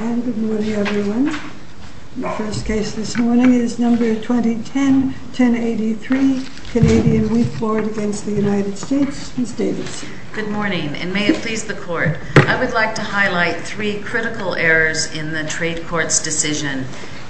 May it please the Court, I would like to highlight three critical errors in the Trade Court's decision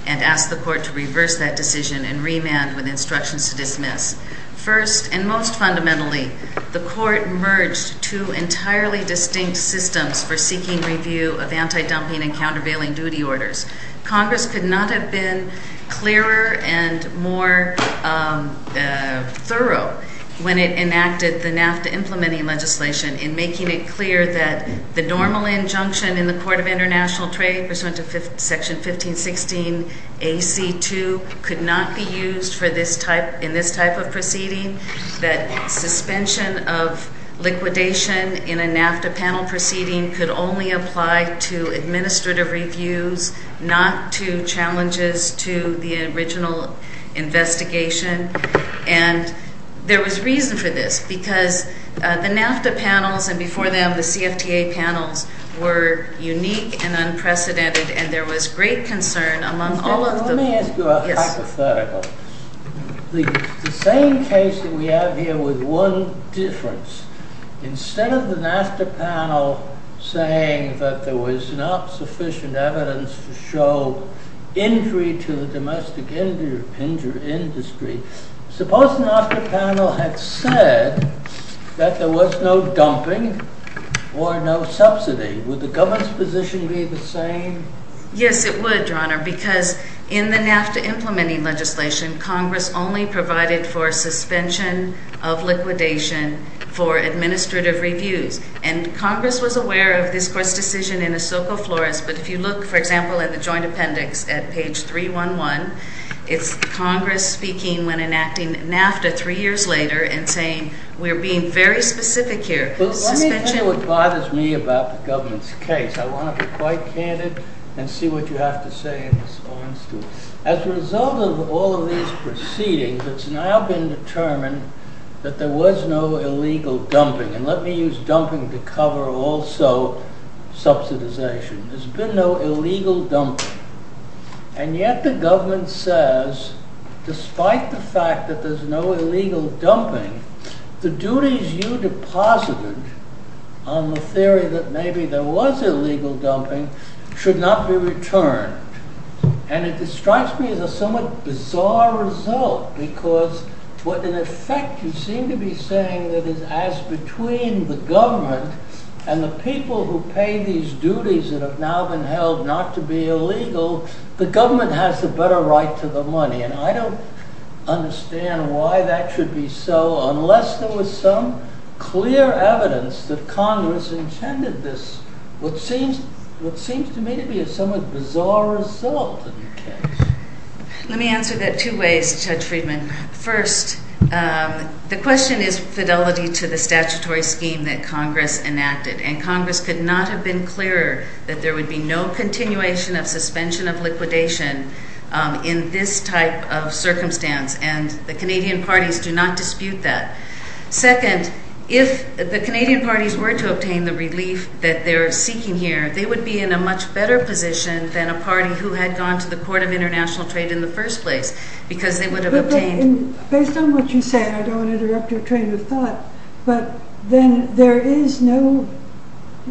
and ask the Court to reverse that decision and remand with instructions to dismiss. First and most fundamentally, the Court merged two entirely distinct systems for seeking review of anti-dumping and countervailing duty orders. Congress could not have been clearer and more thorough when it enacted the NAFTA implementing legislation in making it clear that the normal injunction in the Court of International Trade pursuant to Section 1516 AC2 could not be used in this type of proceeding, that suspension of liquidation in a NAFTA panel proceeding could only apply to administrative reviews, not to challenges to the original investigation. And there was reason for this, because the NAFTA panels and before them the CFTA panels were unique and unprecedented and there was great concern among all of them. Let me ask you a hypothetical. The same case that we have here with one difference, instead of the NAFTA panel saying that there was not sufficient evidence to show injury to the domestic industry, suppose the NAFTA panel had said that there was no dumping or no subsidy, would the government's position be the same? Yes, it would, Your Honor, because in the NAFTA implementing legislation, Congress only provided for suspension of liquidation for administrative reviews. And Congress was aware of this Court's decision in the Soco Flores, but if you look, for example, at the Joint Appendix at page 311, it's Congress speaking when enacting NAFTA three years later and saying we're being very specific here. Let me tell you what bothers me about the government's case. I want to be quite candid and see what you have to say in response to it. As a result of all of these proceedings, it's now been determined that there was no illegal dumping. And let me use dumping to cover also subsidization. There's been no illegal dumping. And yet the government says despite the fact that there's no illegal dumping, the duties you deposited on the theory that maybe there was illegal dumping should not be returned. And it strikes me as a somewhat bizarre result because what in effect you seem to be saying that is as between the government and the people who pay these duties that have now been held not to be illegal, the government has a better right to the money. And I don't understand why that should be so unless there was some clear evidence that Congress intended this, what seems to me to be a somewhat bizarre result in the case. Let me answer that two ways, Judge Friedman. First, the question is fidelity to the statutory scheme that Congress enacted. And Congress could not have been clearer that there would be no continuation of suspension of liquidation in this type of circumstance. And the Canadian parties do not dispute that. Second, if the Canadian parties were to obtain the relief that they're seeking here, they would be in a much better position than a party who had gone to the Court of International Trade in the first place, because they would have obtained... Based on what you said, I don't want to interrupt your train of thought, but then there is no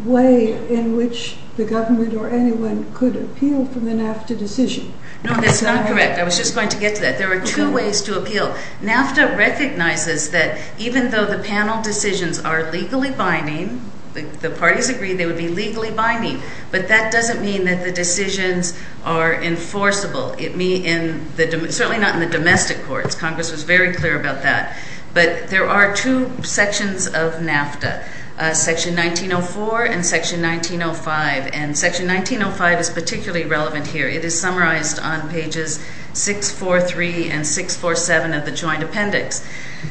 way in which the government or anyone could appeal from the NAFTA decision. No, that's not correct. I was just going to get to that. There are two ways to appeal. NAFTA recognizes that even though the panel decisions are legally binding, the parties agree they would be legally binding, but that doesn't mean that the decisions are enforceable. It may in the... Certainly not in the domestic courts. Congress was very clear about that. But there are two sections of NAFTA, Section 1904 and Section 1905. And Section 1905 is particularly relevant here. It is summarized on pages 643 and 647 of the Joint Appendix.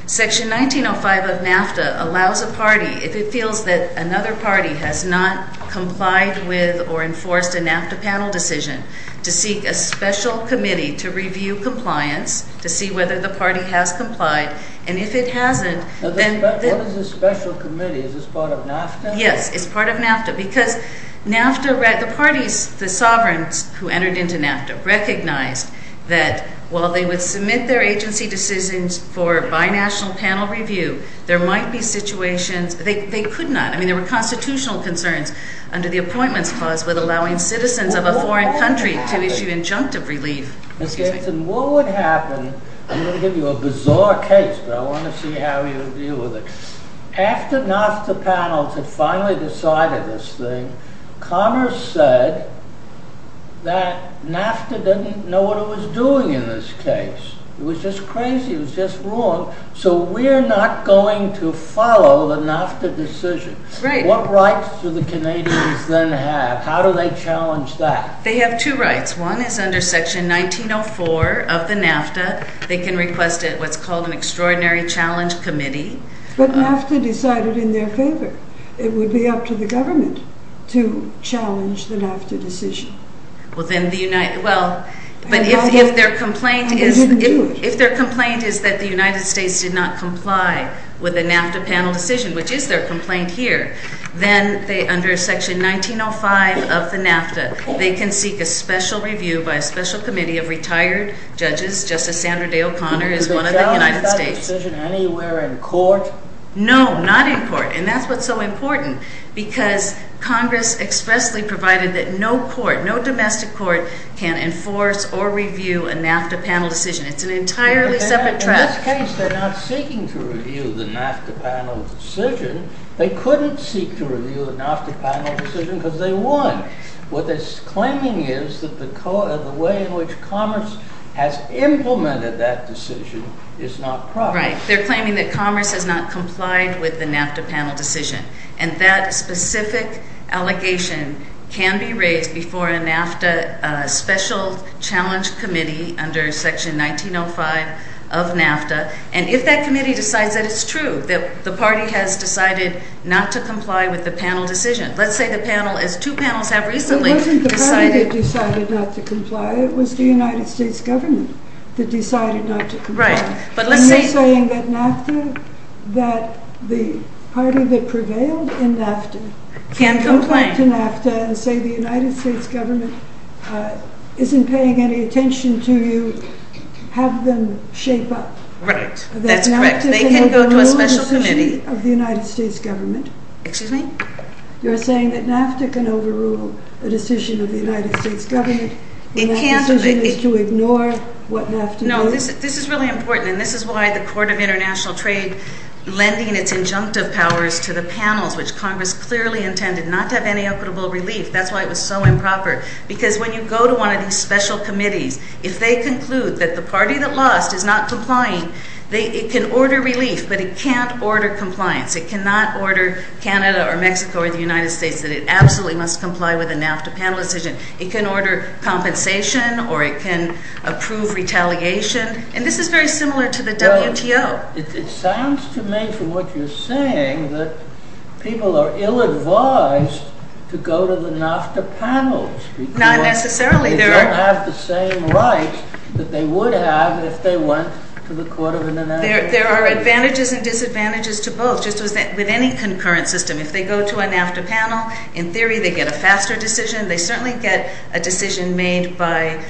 Section 1905 of NAFTA allows a party, if it feels that another party has not complied with or enforced a NAFTA panel decision, to seek a special committee to review compliance, to see whether the party has complied. And if it hasn't, then... What is a special committee? Is this part of NAFTA? Yes, it's part of NAFTA. Because NAFTA... The parties, the sovereigns who entered into NAFTA recognized that while they would submit their agency decisions for binational panel review, there might be situations... They could not. I mean, there were constitutional concerns under the Appointments Clause with allowing citizens of a foreign country to issue injunctive relief. What would happen... I'm going to give you a bizarre case, but I want to see how you deal with it. After NAFTA panels had finally decided this thing, Congress said that NAFTA didn't know what it was doing in this case. It was just crazy. It was just wrong. So we're not going to follow the NAFTA decision. What rights do the Canadians then have? How do they challenge that? They have two rights. One is under Section 1904 of the NAFTA. They can request what's called an Extraordinary Challenge Committee. But NAFTA decided in their favor. It would be up to the government to challenge the NAFTA decision. Well, then the United... Well, but if their complaint is that the United States did not comply with the NAFTA panel decision, which they did, they can seek a special review by a special committee of retired judges. Justice Sandra Day O'Connor is one of the United States. Would they challenge that decision anywhere in court? No, not in court. And that's what's so important, because Congress expressly provided that no court, no domestic court, can enforce or review a NAFTA panel decision. It's an entirely separate trust. In this case, they're not seeking to review the NAFTA panel decision. They couldn't seek to review the NAFTA panel decision, because they would. What they're claiming is that the way in which Congress has implemented that decision is not proper. Right. They're claiming that Congress has not complied with the NAFTA panel decision. And that specific allegation can be raised before a NAFTA Special Challenge Committee under Section 1905 of NAFTA. And if that panel decision, let's say the panel, as two panels have recently decided not to comply, it was the United States government that decided not to comply. Right. But let's say saying that NAFTA, that the party that prevailed in NAFTA can go back to NAFTA and say the United States government isn't paying any attention to you, have them shape up. Right. That's correct. They can go to a special committee. You're saying that NAFTA can overrule a decision of the United States government. The decision is to ignore what NAFTA does. No, this is really important. And this is why the Court of International Trade lending its injunctive powers to the panels, which Congress clearly intended not to have any equitable relief. That's why it was so improper. Because when you go to one of these special committees, if they conclude that the party that lost is not complying, it can order relief, but it can't order compliance. It cannot order Canada or Mexico or the United States that it absolutely must comply with a NAFTA panel decision. It can order compensation or it can approve retaliation. And this is very similar to the WTO. It sounds to me from what you're saying that people are ill-advised to go to the NAFTA panels. Not necessarily. They don't have the same rights that they would have if they went to the Court of International Trade. There are advantages and disadvantages to both, just as with any concurrent system. If they go to a NAFTA panel, in theory, they get a faster decision. They certainly get a decision made by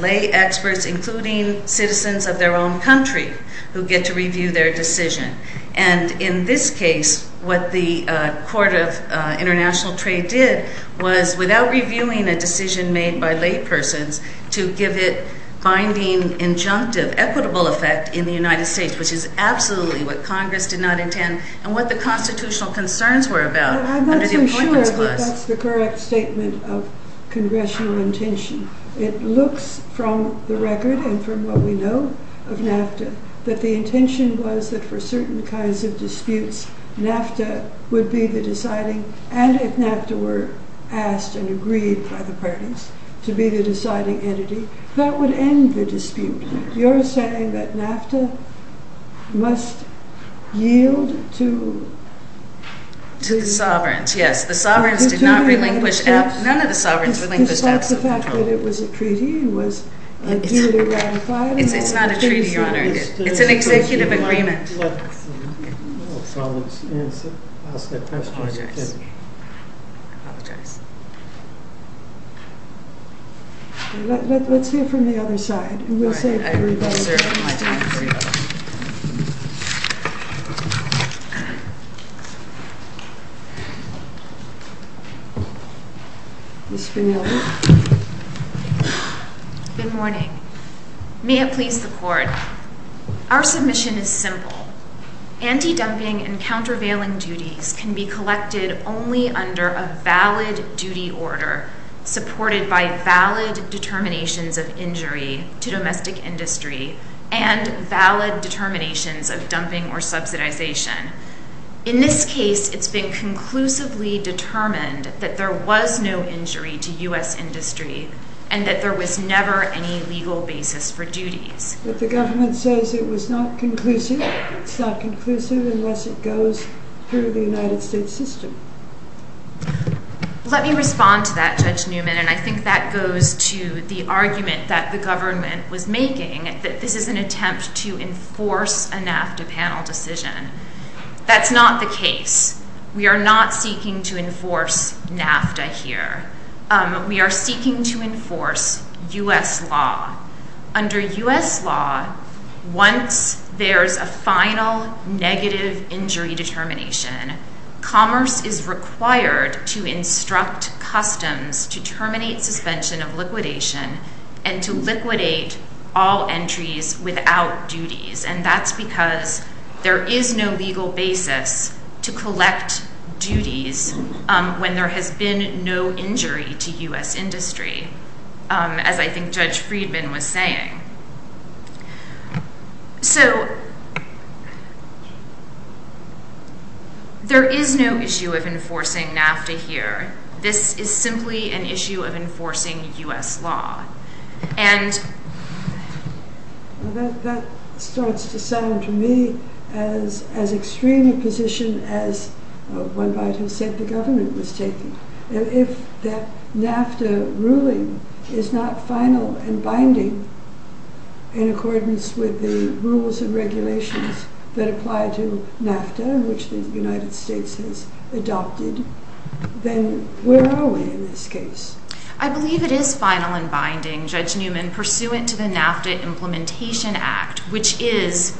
lay experts, including citizens of their own country, who get to review their decision. And in this case, what the Court of International Trade did was, without reviewing a decision made by laypersons, to give it binding, injunctive, equitable effect in the United States, which is absolutely what Congress did not intend, and what the constitutional concerns were about under the Appointments Clause. I'm not so sure that that's the correct statement of congressional intention. It looks from the record and from what we know of NAFTA that the intention was that for certain kinds of disputes, NAFTA would be the deciding, and if NAFTA were asked and agreed by the parties, to be the deciding entity, that would end the dispute. You're saying that NAFTA must yield to... To the sovereigns, yes. The sovereigns did not relinquish, none of the sovereigns relinquished absolute control. It's not the fact that it was a treaty, it was ideally ratified. It's not a treaty, Your Honor. It's an executive agreement. Let's hear from the other side. Good morning. May it please the Court, our submission is simple. Anti-dumping and countervailing duties can be collected only under a valid duty order supported by valid determinations of injury to domestic industry and valid determinations of dumping or subsidization. In this case, it's been conclusively determined that there was no injury to U.S. industry and that there was never any legal basis for duties. But the government says it was not conclusive. It's not conclusive unless it goes through the United States system. Let me respond to that, Judge Newman, and I think that goes to the argument that the government was making, that this is an attempt to enforce a NAFTA panel decision. That's not the case. We are not seeking to enforce NAFTA here. We are seeking to enforce U.S. law. Under U.S. law, once there's a final negative injury determination, commerce is required to instruct customs to terminate suspension of liquidation and to liquidate all entries without duties. And that's because there is no legal basis to collect duties when there has been no injury to U.S. industry, as I think Judge Friedman was saying. So, there is no issue of enforcing NAFTA here. This is simply an issue of enforcing U.S. law. And that starts to sound to me as extreme a position as one might have said the government was taking. If that NAFTA ruling is not final and binding in accordance with the rules and regulations that apply to NAFTA, which the United States has adopted, then where are we in this case? I believe it is final and binding, Judge Newman, pursuant to the NAFTA Implementation Act, which is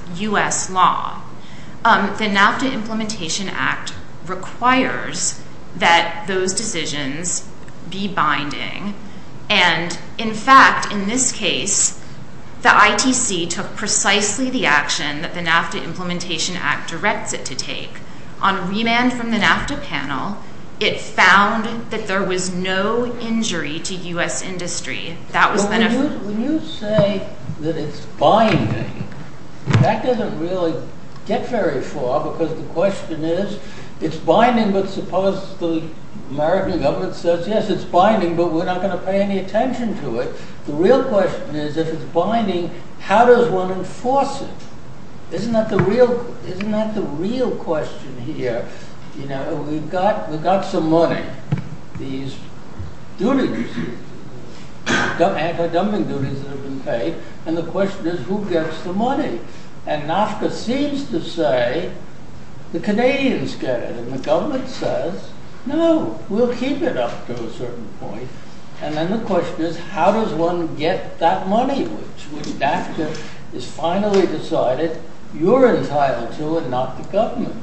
binding. And in fact, in this case, the ITC took precisely the action that the NAFTA Implementation Act directs it to take. On remand from the NAFTA panel, it found that there was no injury to U.S. industry. When you say that it's binding, that doesn't really get very far because the question is, it's binding, but suppose the American government says, yes, it's binding, but we're not going to pay any attention to it. The real question is, if it's binding, how does one enforce it? Isn't that the real question here? We've got some money, these duties, anti-dumping duties that have been paid, and the question is, who gets the money? And NAFTA seems to say, the Canadians get it, and the government says, no, we'll keep it up to a certain point, and then the question is, how does one get that money, which NAFTA has finally decided you're entitled to and not the government?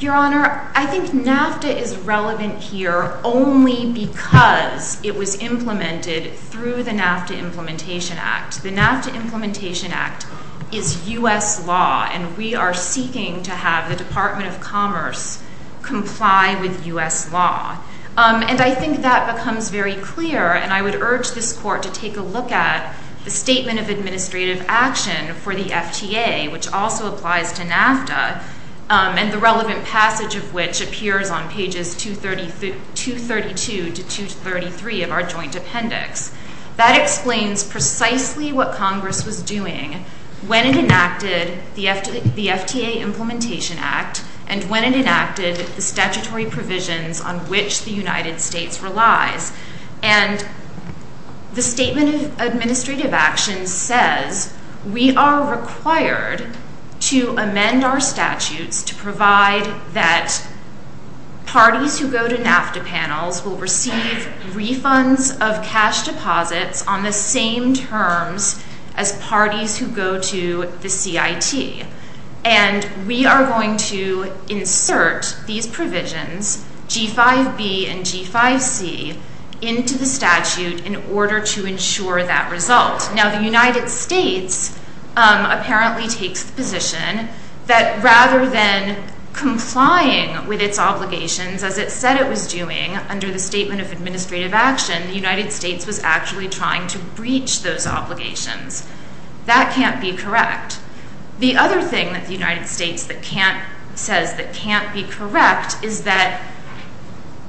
Your Honor, I think NAFTA is relevant here only because it was implemented through the NAFTA Implementation Act. The NAFTA Implementation Act is U.S. law, and we are seeking to have the Department of Commerce comply with U.S. law, and I think that becomes very clear, and I would urge this Court to take a look at the Statement of Administrative Action for the FTA, which also applies to NAFTA, and the relevant passage of which appears on pages 232 to 233 of our Joint Appendix. That explains precisely what Congress was doing when it enacted the FTA Implementation Act, and when it enacted the statutory provisions on which the United States relies, and the Statement of Administrative Action says we are required to amend our statutes to provide that parties who go to NAFTA panels will receive refunds of cash deposits on the same terms as parties who go to the CIT, and we are going to insert these provisions, G5B and G5C, into the statute in order to ensure that result. Now, the United States apparently takes the responsibility of complying with its obligations as it said it was doing under the Statement of Administrative Action. The United States was actually trying to breach those obligations. That can't be correct. The other thing that the United States that can't, says that can't be correct, is that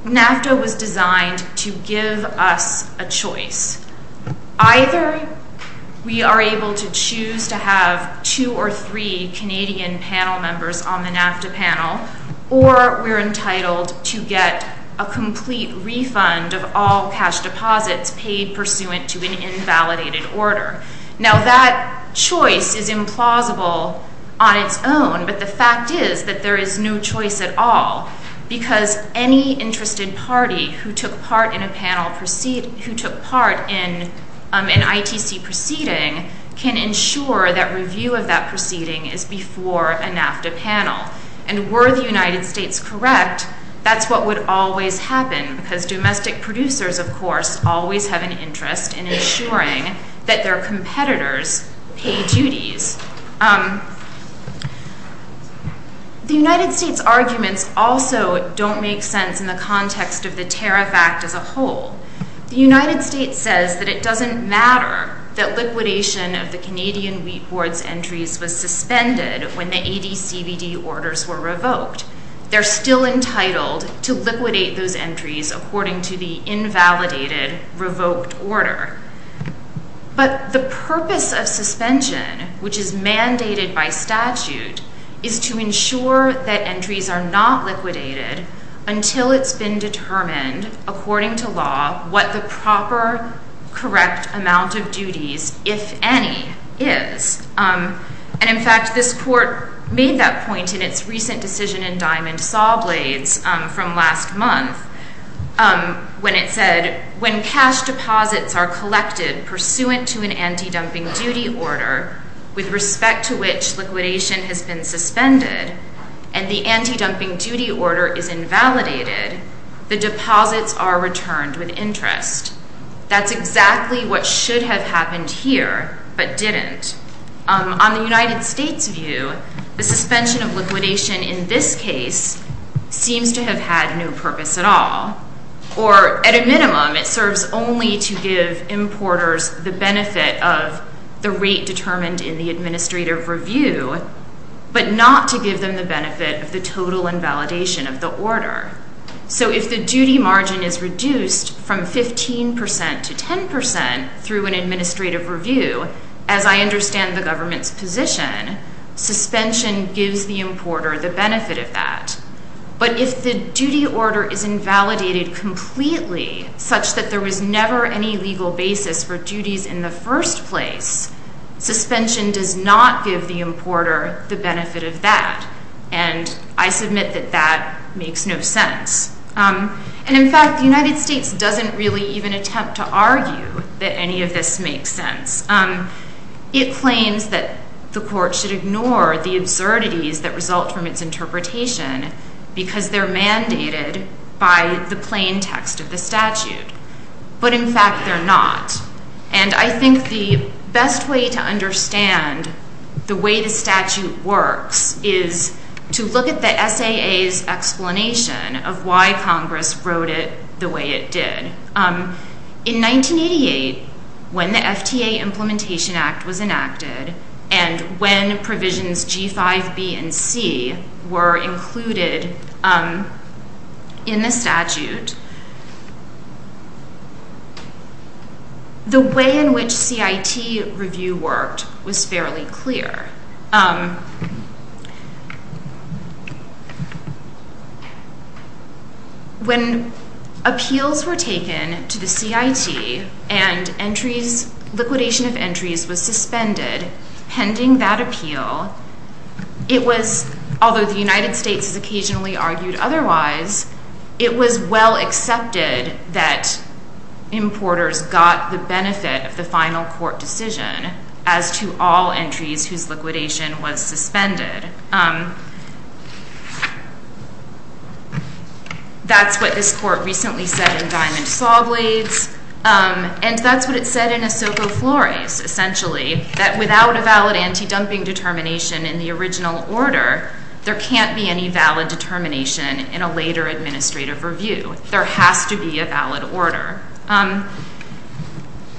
NAFTA was designed to give us a choice. Either we are able to choose to have two or three Canadian panel members on the NAFTA panel, or we are entitled to get a complete refund of all cash deposits paid pursuant to an invalidated order. Now, that choice is implausible on its own, but the fact is that there is no choice at all, because any interested party who proceeds from a NAFTA panel is entitled to get a refund of all cash deposits paid. Now, the review of that proceeding is before a NAFTA panel, and were the United States correct, that's what would always happen, because domestic producers, of course, always have an interest in ensuring that their competitors pay duties. The United States' arguments also don't make sense in the context of the Tariff Act as a whole. The United States says that it doesn't matter that liquidation of the Canadian Wheat Board's entries was suspended when the ADCBD orders were revoked. They're still entitled to liquidate those entries according to the invalidated, revoked order. But the purpose of suspension, which is mandated by statute, is to ensure that entries are not liquidated until it's been determined, according to law, what the proper correct amount of duties, if any, is. And in fact, this Court made that point in its recent decision in Diamond Saw Blades from last month, when it said, when cash deposits are collected pursuant to an anti-dumping duty order, with respect to which liquidation has been suspended, and the anti-dumping duty order is invalidated, the deposits are returned with interest. That's exactly what should have happened here, but didn't. On the United States' view, the suspension of liquidation in this case seems to have had no purpose at all, or at a minimum, it serves only to give importers the benefit of the rate determined in the administrative review, but not to give them the benefit of the total invalidation of the order. So if the duty margin is reduced from 15 percent to 10 percent through an administrative review, as I understand the government's position, suspension gives the importer the benefit of that. But if the duty order is invalidated completely, such that there was never any legal basis for duties in the first place, suspension does not give the importer the benefit of that. And I submit that that makes no sense. And in fact, the United States doesn't really even attempt to argue that any of this makes sense. It claims that the Court should ignore the absurdities that result from its interpretation because they're mandated by the plain text of the statute. But in fact, they're not. And I think the best way to understand the way the statute works is to look at the SAA's explanation of why Congress wrote it the way it did. In 1988, when the FTA Implementation Act was included in the statute, the way in which CIT review worked was fairly clear. When appeals were taken to the CIT and liquidation of entries was suspended pending that appeal, it was, although the United States has occasionally argued otherwise, it was well accepted that importers got the benefit of the final court decision as to all entries whose liquidation was suspended. That's what this court recently said in Diamond Sawblades, and that's what it said in the original order. There can't be any valid determination in a later administrative review. There has to be a valid order.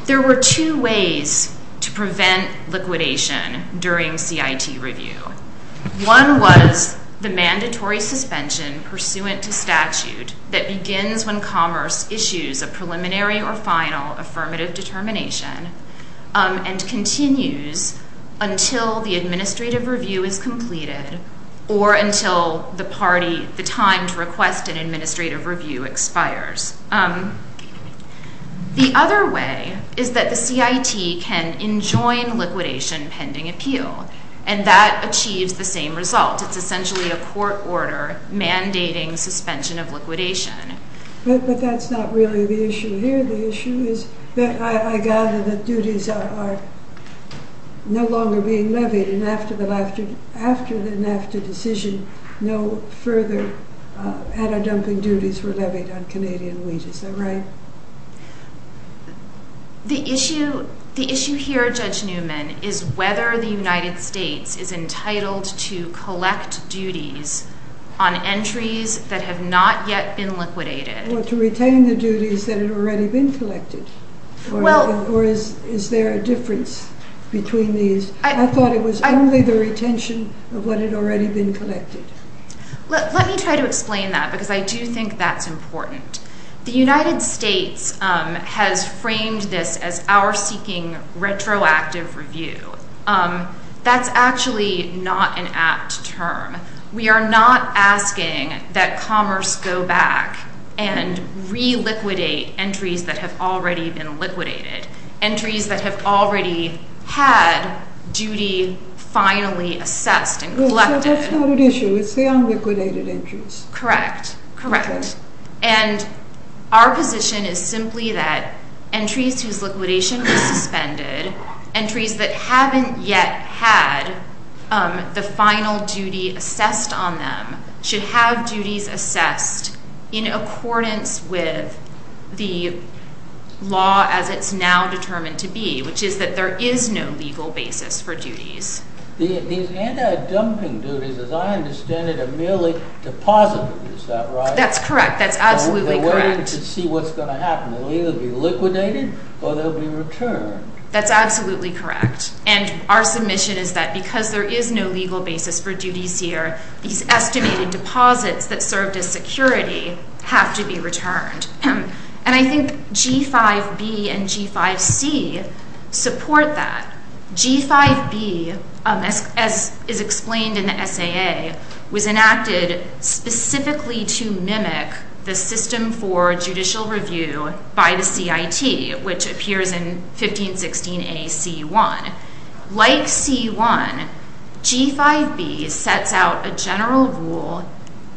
There were two ways to prevent liquidation during CIT review. One was the mandatory suspension pursuant to statute that begins when commerce issues a until the administrative review is completed or until the time to request an administrative review expires. The other way is that the CIT can enjoin liquidation pending appeal, and that achieves the same result. It's essentially a court order mandating suspension of liquidation. But that's not really the issue here. The issue is that I gather that duties are no longer being levied, and after the NAFTA decision, no further adder dumping duties were levied on Canadian wheat. Is that right? The issue here, Judge Newman, is whether the United States is entitled to collect duties on entries that have not yet been liquidated. Or to retain the duties that had already been collected. Or is there a difference between these? I thought it was only the retention of what had already been collected. Let me try to explain that, because I do think that's important. The United States has framed this as our seeking retroactive review. That's actually not an apt term. We are not asking that commerce go back and reliquidate entries that have already been liquidated. Entries that have already had duty finally assessed and collected. That's not an issue. It's the unliquidated entries. Correct. Correct. And our position is simply that entries whose liquidation was suspended, entries that haven't yet had the final duty assessed on them, should have duties assessed in accordance with the law as it's now determined to be, which is that there is no legal basis for duties. These adder dumping duties, as I understand it, are merely deposited. Is that right? That's correct. That's absolutely correct. We're waiting to see what's going to happen. They'll either be liquidated or they'll be returned. That's absolutely correct. And our submission is that because there is no legal basis for duties here, these estimated deposits that served as security have to be returned. And I think G5B and G5C support that. G5B, as is explained in the SAA, was enacted specifically to mimic the system for judicial review by the CIT, which appears in 1516A C1. Like C1, G5B sets out a general rule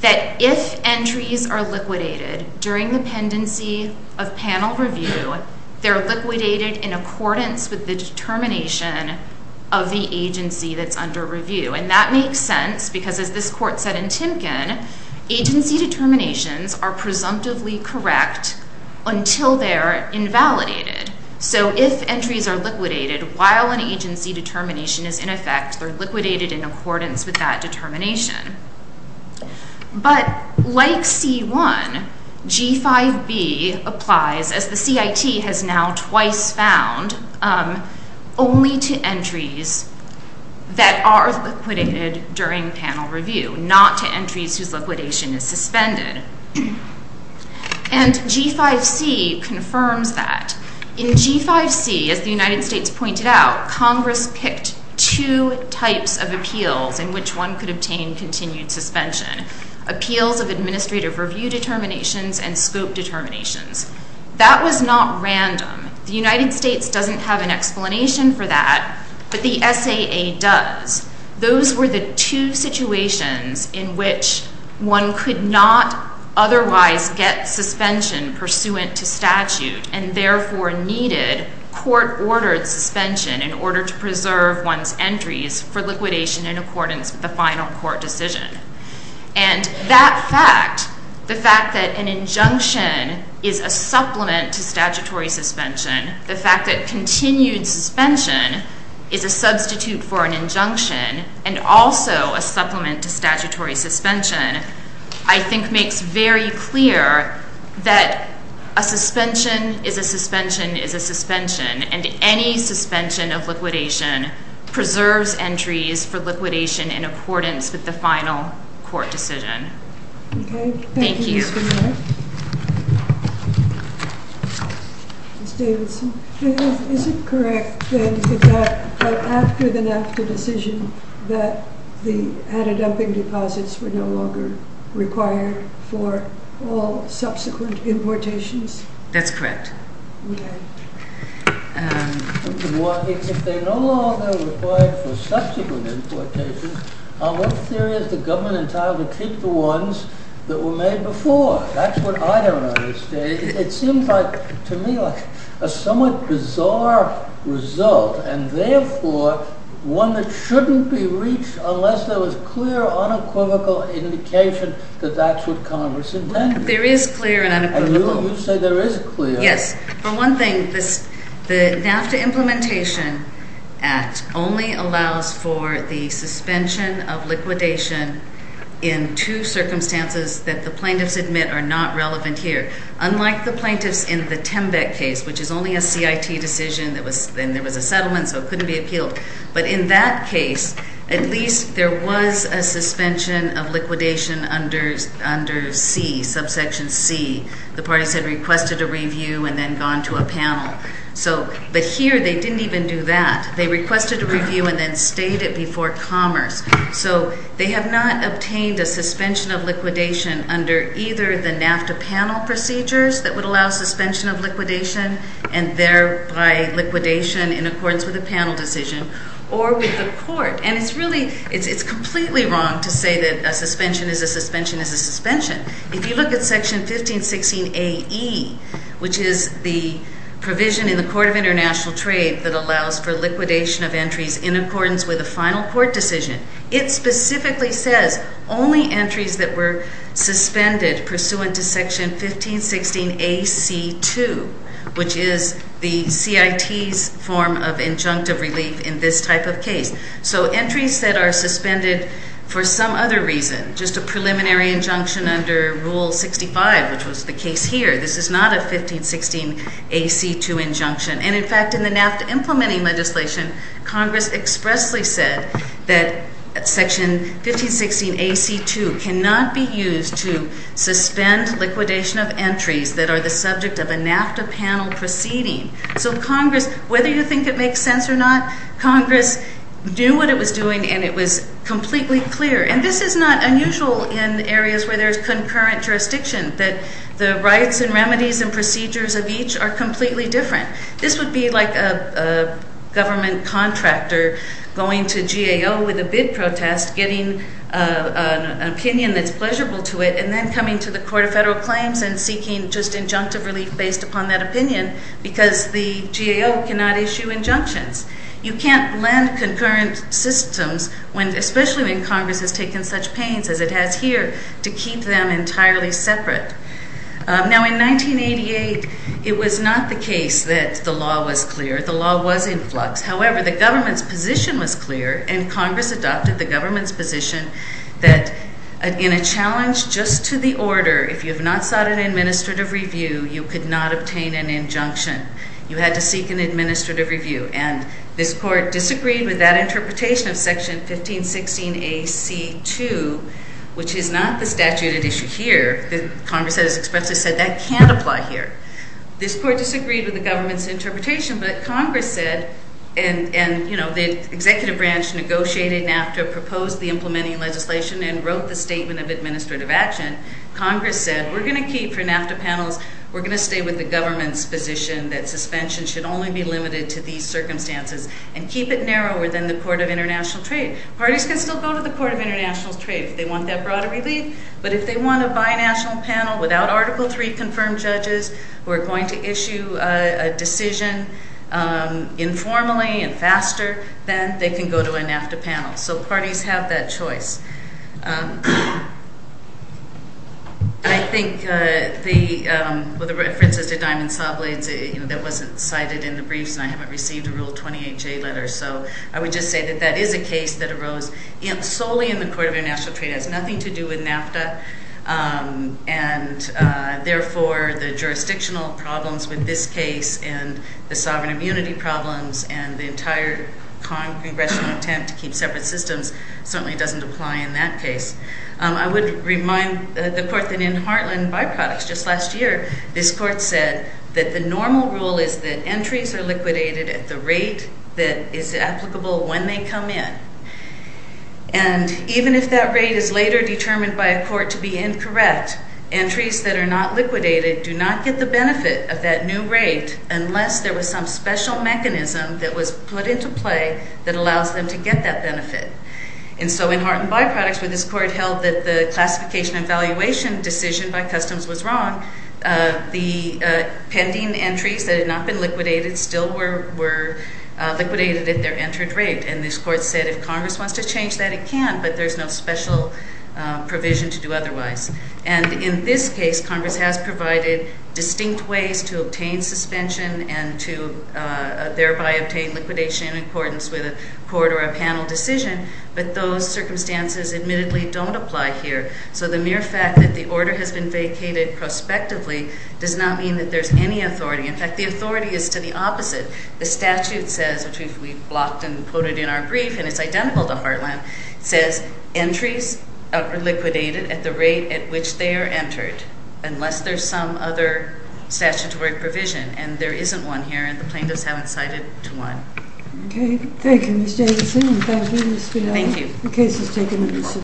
that if entries are liquidated during the pendency of panel review, they're liquidated in accordance with the determination of the agency that's under review. And that makes sense because, as this Court said in Timken, agency determinations are presumptively correct until they're invalidated. So if entries are liquidated while an agency determination is in effect, they're liquidated in accordance with that determination. But like C1, G5B applies, as the CIT has now twice found, only to entries that are suspended. And G5C confirms that. In G5C, as the United States pointed out, Congress picked two types of appeals in which one could obtain continued suspension. Appeals of administrative review determinations and scope determinations. That was not random. The United States doesn't have an explanation for that, but the SAA does. Those were the two situations in which one could not otherwise get suspension pursuant to statute and therefore needed court-ordered suspension in order to preserve one's entries for liquidation in accordance with the final court decision. And that fact, the fact that an injunction is a supplement to statutory suspension, the fact that continued suspension is a substitute for an injunction and also a supplement to statutory suspension, I think makes very clear that a suspension is a suspension is a suspension, and any suspension of liquidation preserves entries for liquidation in accordance with the final court decision. Thank you. Ms. Davidson, is it correct then that after the NAFTA decision that the added dumping deposits were no longer required for all subsequent importations? That's correct. If they're no longer required for subsequent importations, what theory is the government entitled to keep the ones that were made before? That's what I don't understand. It seems to me like a somewhat bizarre result, and therefore one that shouldn't be reached unless there was clear unequivocal indication that that's what Congress intended. There is clear and unequivocal. You say there is clear. Yes. For one thing, the NAFTA Implementation Act only allows for the suspension of liquidation in two circumstances that the plaintiffs admit are not relevant here. Unlike the plaintiffs in the Tembeck case, which is only a CIT decision, and there was a settlement, so it couldn't be appealed. But in that case, at least there was a suspension of liquidation under C, subsection C. The parties had requested a review and then gone to a panel. But here, they didn't even do that. They requested a review and then stayed it before Commerce. So they have not obtained a suspension of liquidation under either the NAFTA panel procedures that would allow suspension of liquidation and thereby liquidation in accordance with a panel decision or with the court. And it's really, it's completely wrong to say that a suspension is a suspension is a suspension. If you look at Section 1516AE, which is the provision in the Court of International Trade that allows for liquidation of entries in accordance with a final court decision, it specifically says only entries that were suspended pursuant to Section 1516AC2, which is the CIT's form of injunctive relief in this type of case. So entries that are suspended for some other reason, just a preliminary injunction under Rule 65, which was the case here, this is not a 1516AC2 injunction. And in fact, in implementing legislation, Congress expressly said that Section 1516AC2 cannot be used to suspend liquidation of entries that are the subject of a NAFTA panel proceeding. So Congress, whether you think it makes sense or not, Congress knew what it was doing and it was completely clear. And this is not unusual in areas where there's concurrent jurisdiction, that the rights and remedies and procedures of each are completely different. This would be like a government contractor going to GAO with a bid protest, getting an opinion that's pleasurable to it, and then coming to the Court of Federal Claims and seeking just injunctive relief based upon that opinion, because the GAO cannot issue injunctions. You can't lend concurrent systems, especially when Congress has taken such pains as it has here, to keep them entirely separate. Now, in 1988, it was not the case that the law was clear. The law was in flux. However, the government's position was clear, and Congress adopted the government's position that in a challenge just to the order, if you have not sought an administrative review, you could not obtain an injunction. You had to seek an administrative review. And this Court disagreed with that interpretation of Section 1516AC2, which is not the statute at issue here. The Congress has expressly said that can't apply here. This Court disagreed with the government's interpretation, but Congress said, and the executive branch negotiated NAFTA, proposed the implementing legislation, and wrote the statement of administrative action. Congress said, we're going to keep for NAFTA panels, we're going to stay with the government's position that suspension should only be limited to these circumstances, and keep it narrower than the Court of International Trade. Parties can still go to the Court of International Trade if they want that broader relief, but if they want a binational panel without Article III-confirmed judges who are going to issue a decision informally and faster, then they can go to a NAFTA panel. So parties have that choice. I think the references to diamond saw blades, that wasn't cited in the briefs, and I haven't received a Rule 28J letter, so I would just say that that is a case that solely in the Court of International Trade has nothing to do with NAFTA, and therefore the jurisdictional problems with this case and the sovereign immunity problems and the entire Congressional attempt to keep separate systems certainly doesn't apply in that case. I would remind the Court that in Heartland byproducts just last year, this Court said that the normal rule is that entries are liquidated at the rate that is applicable when they come in, and even if that rate is later determined by a court to be incorrect, entries that are not liquidated do not get the benefit of that new rate unless there was some special mechanism that was put into play that allows them to get that benefit, and so in Heartland byproducts where this Court held that the classification and valuation decision by customs was wrong, the pending entries that had not been liquidated still were liquidated at their entered rate, and this Court said if Congress wants to change that it can, but there's no special provision to do otherwise, and in this case, Congress has provided distinct ways to obtain suspension and to thereby obtain liquidation in accordance with a court or a panel decision, but those circumstances admittedly don't apply here, so the mere fact that the order has been vacated prospectively does not mean that there's any authority. In fact, the authority is to the opposite. The statute says, which we've blocked and quoted in our brief, and it's identical to Heartland, it says entries are liquidated at the rate at which they are entered unless there's some other statutory provision, and there isn't one here, and the plaintiffs haven't cited to one. Okay, thank you, Ms. Davidson. I'm pleased to speak on the case that's taken.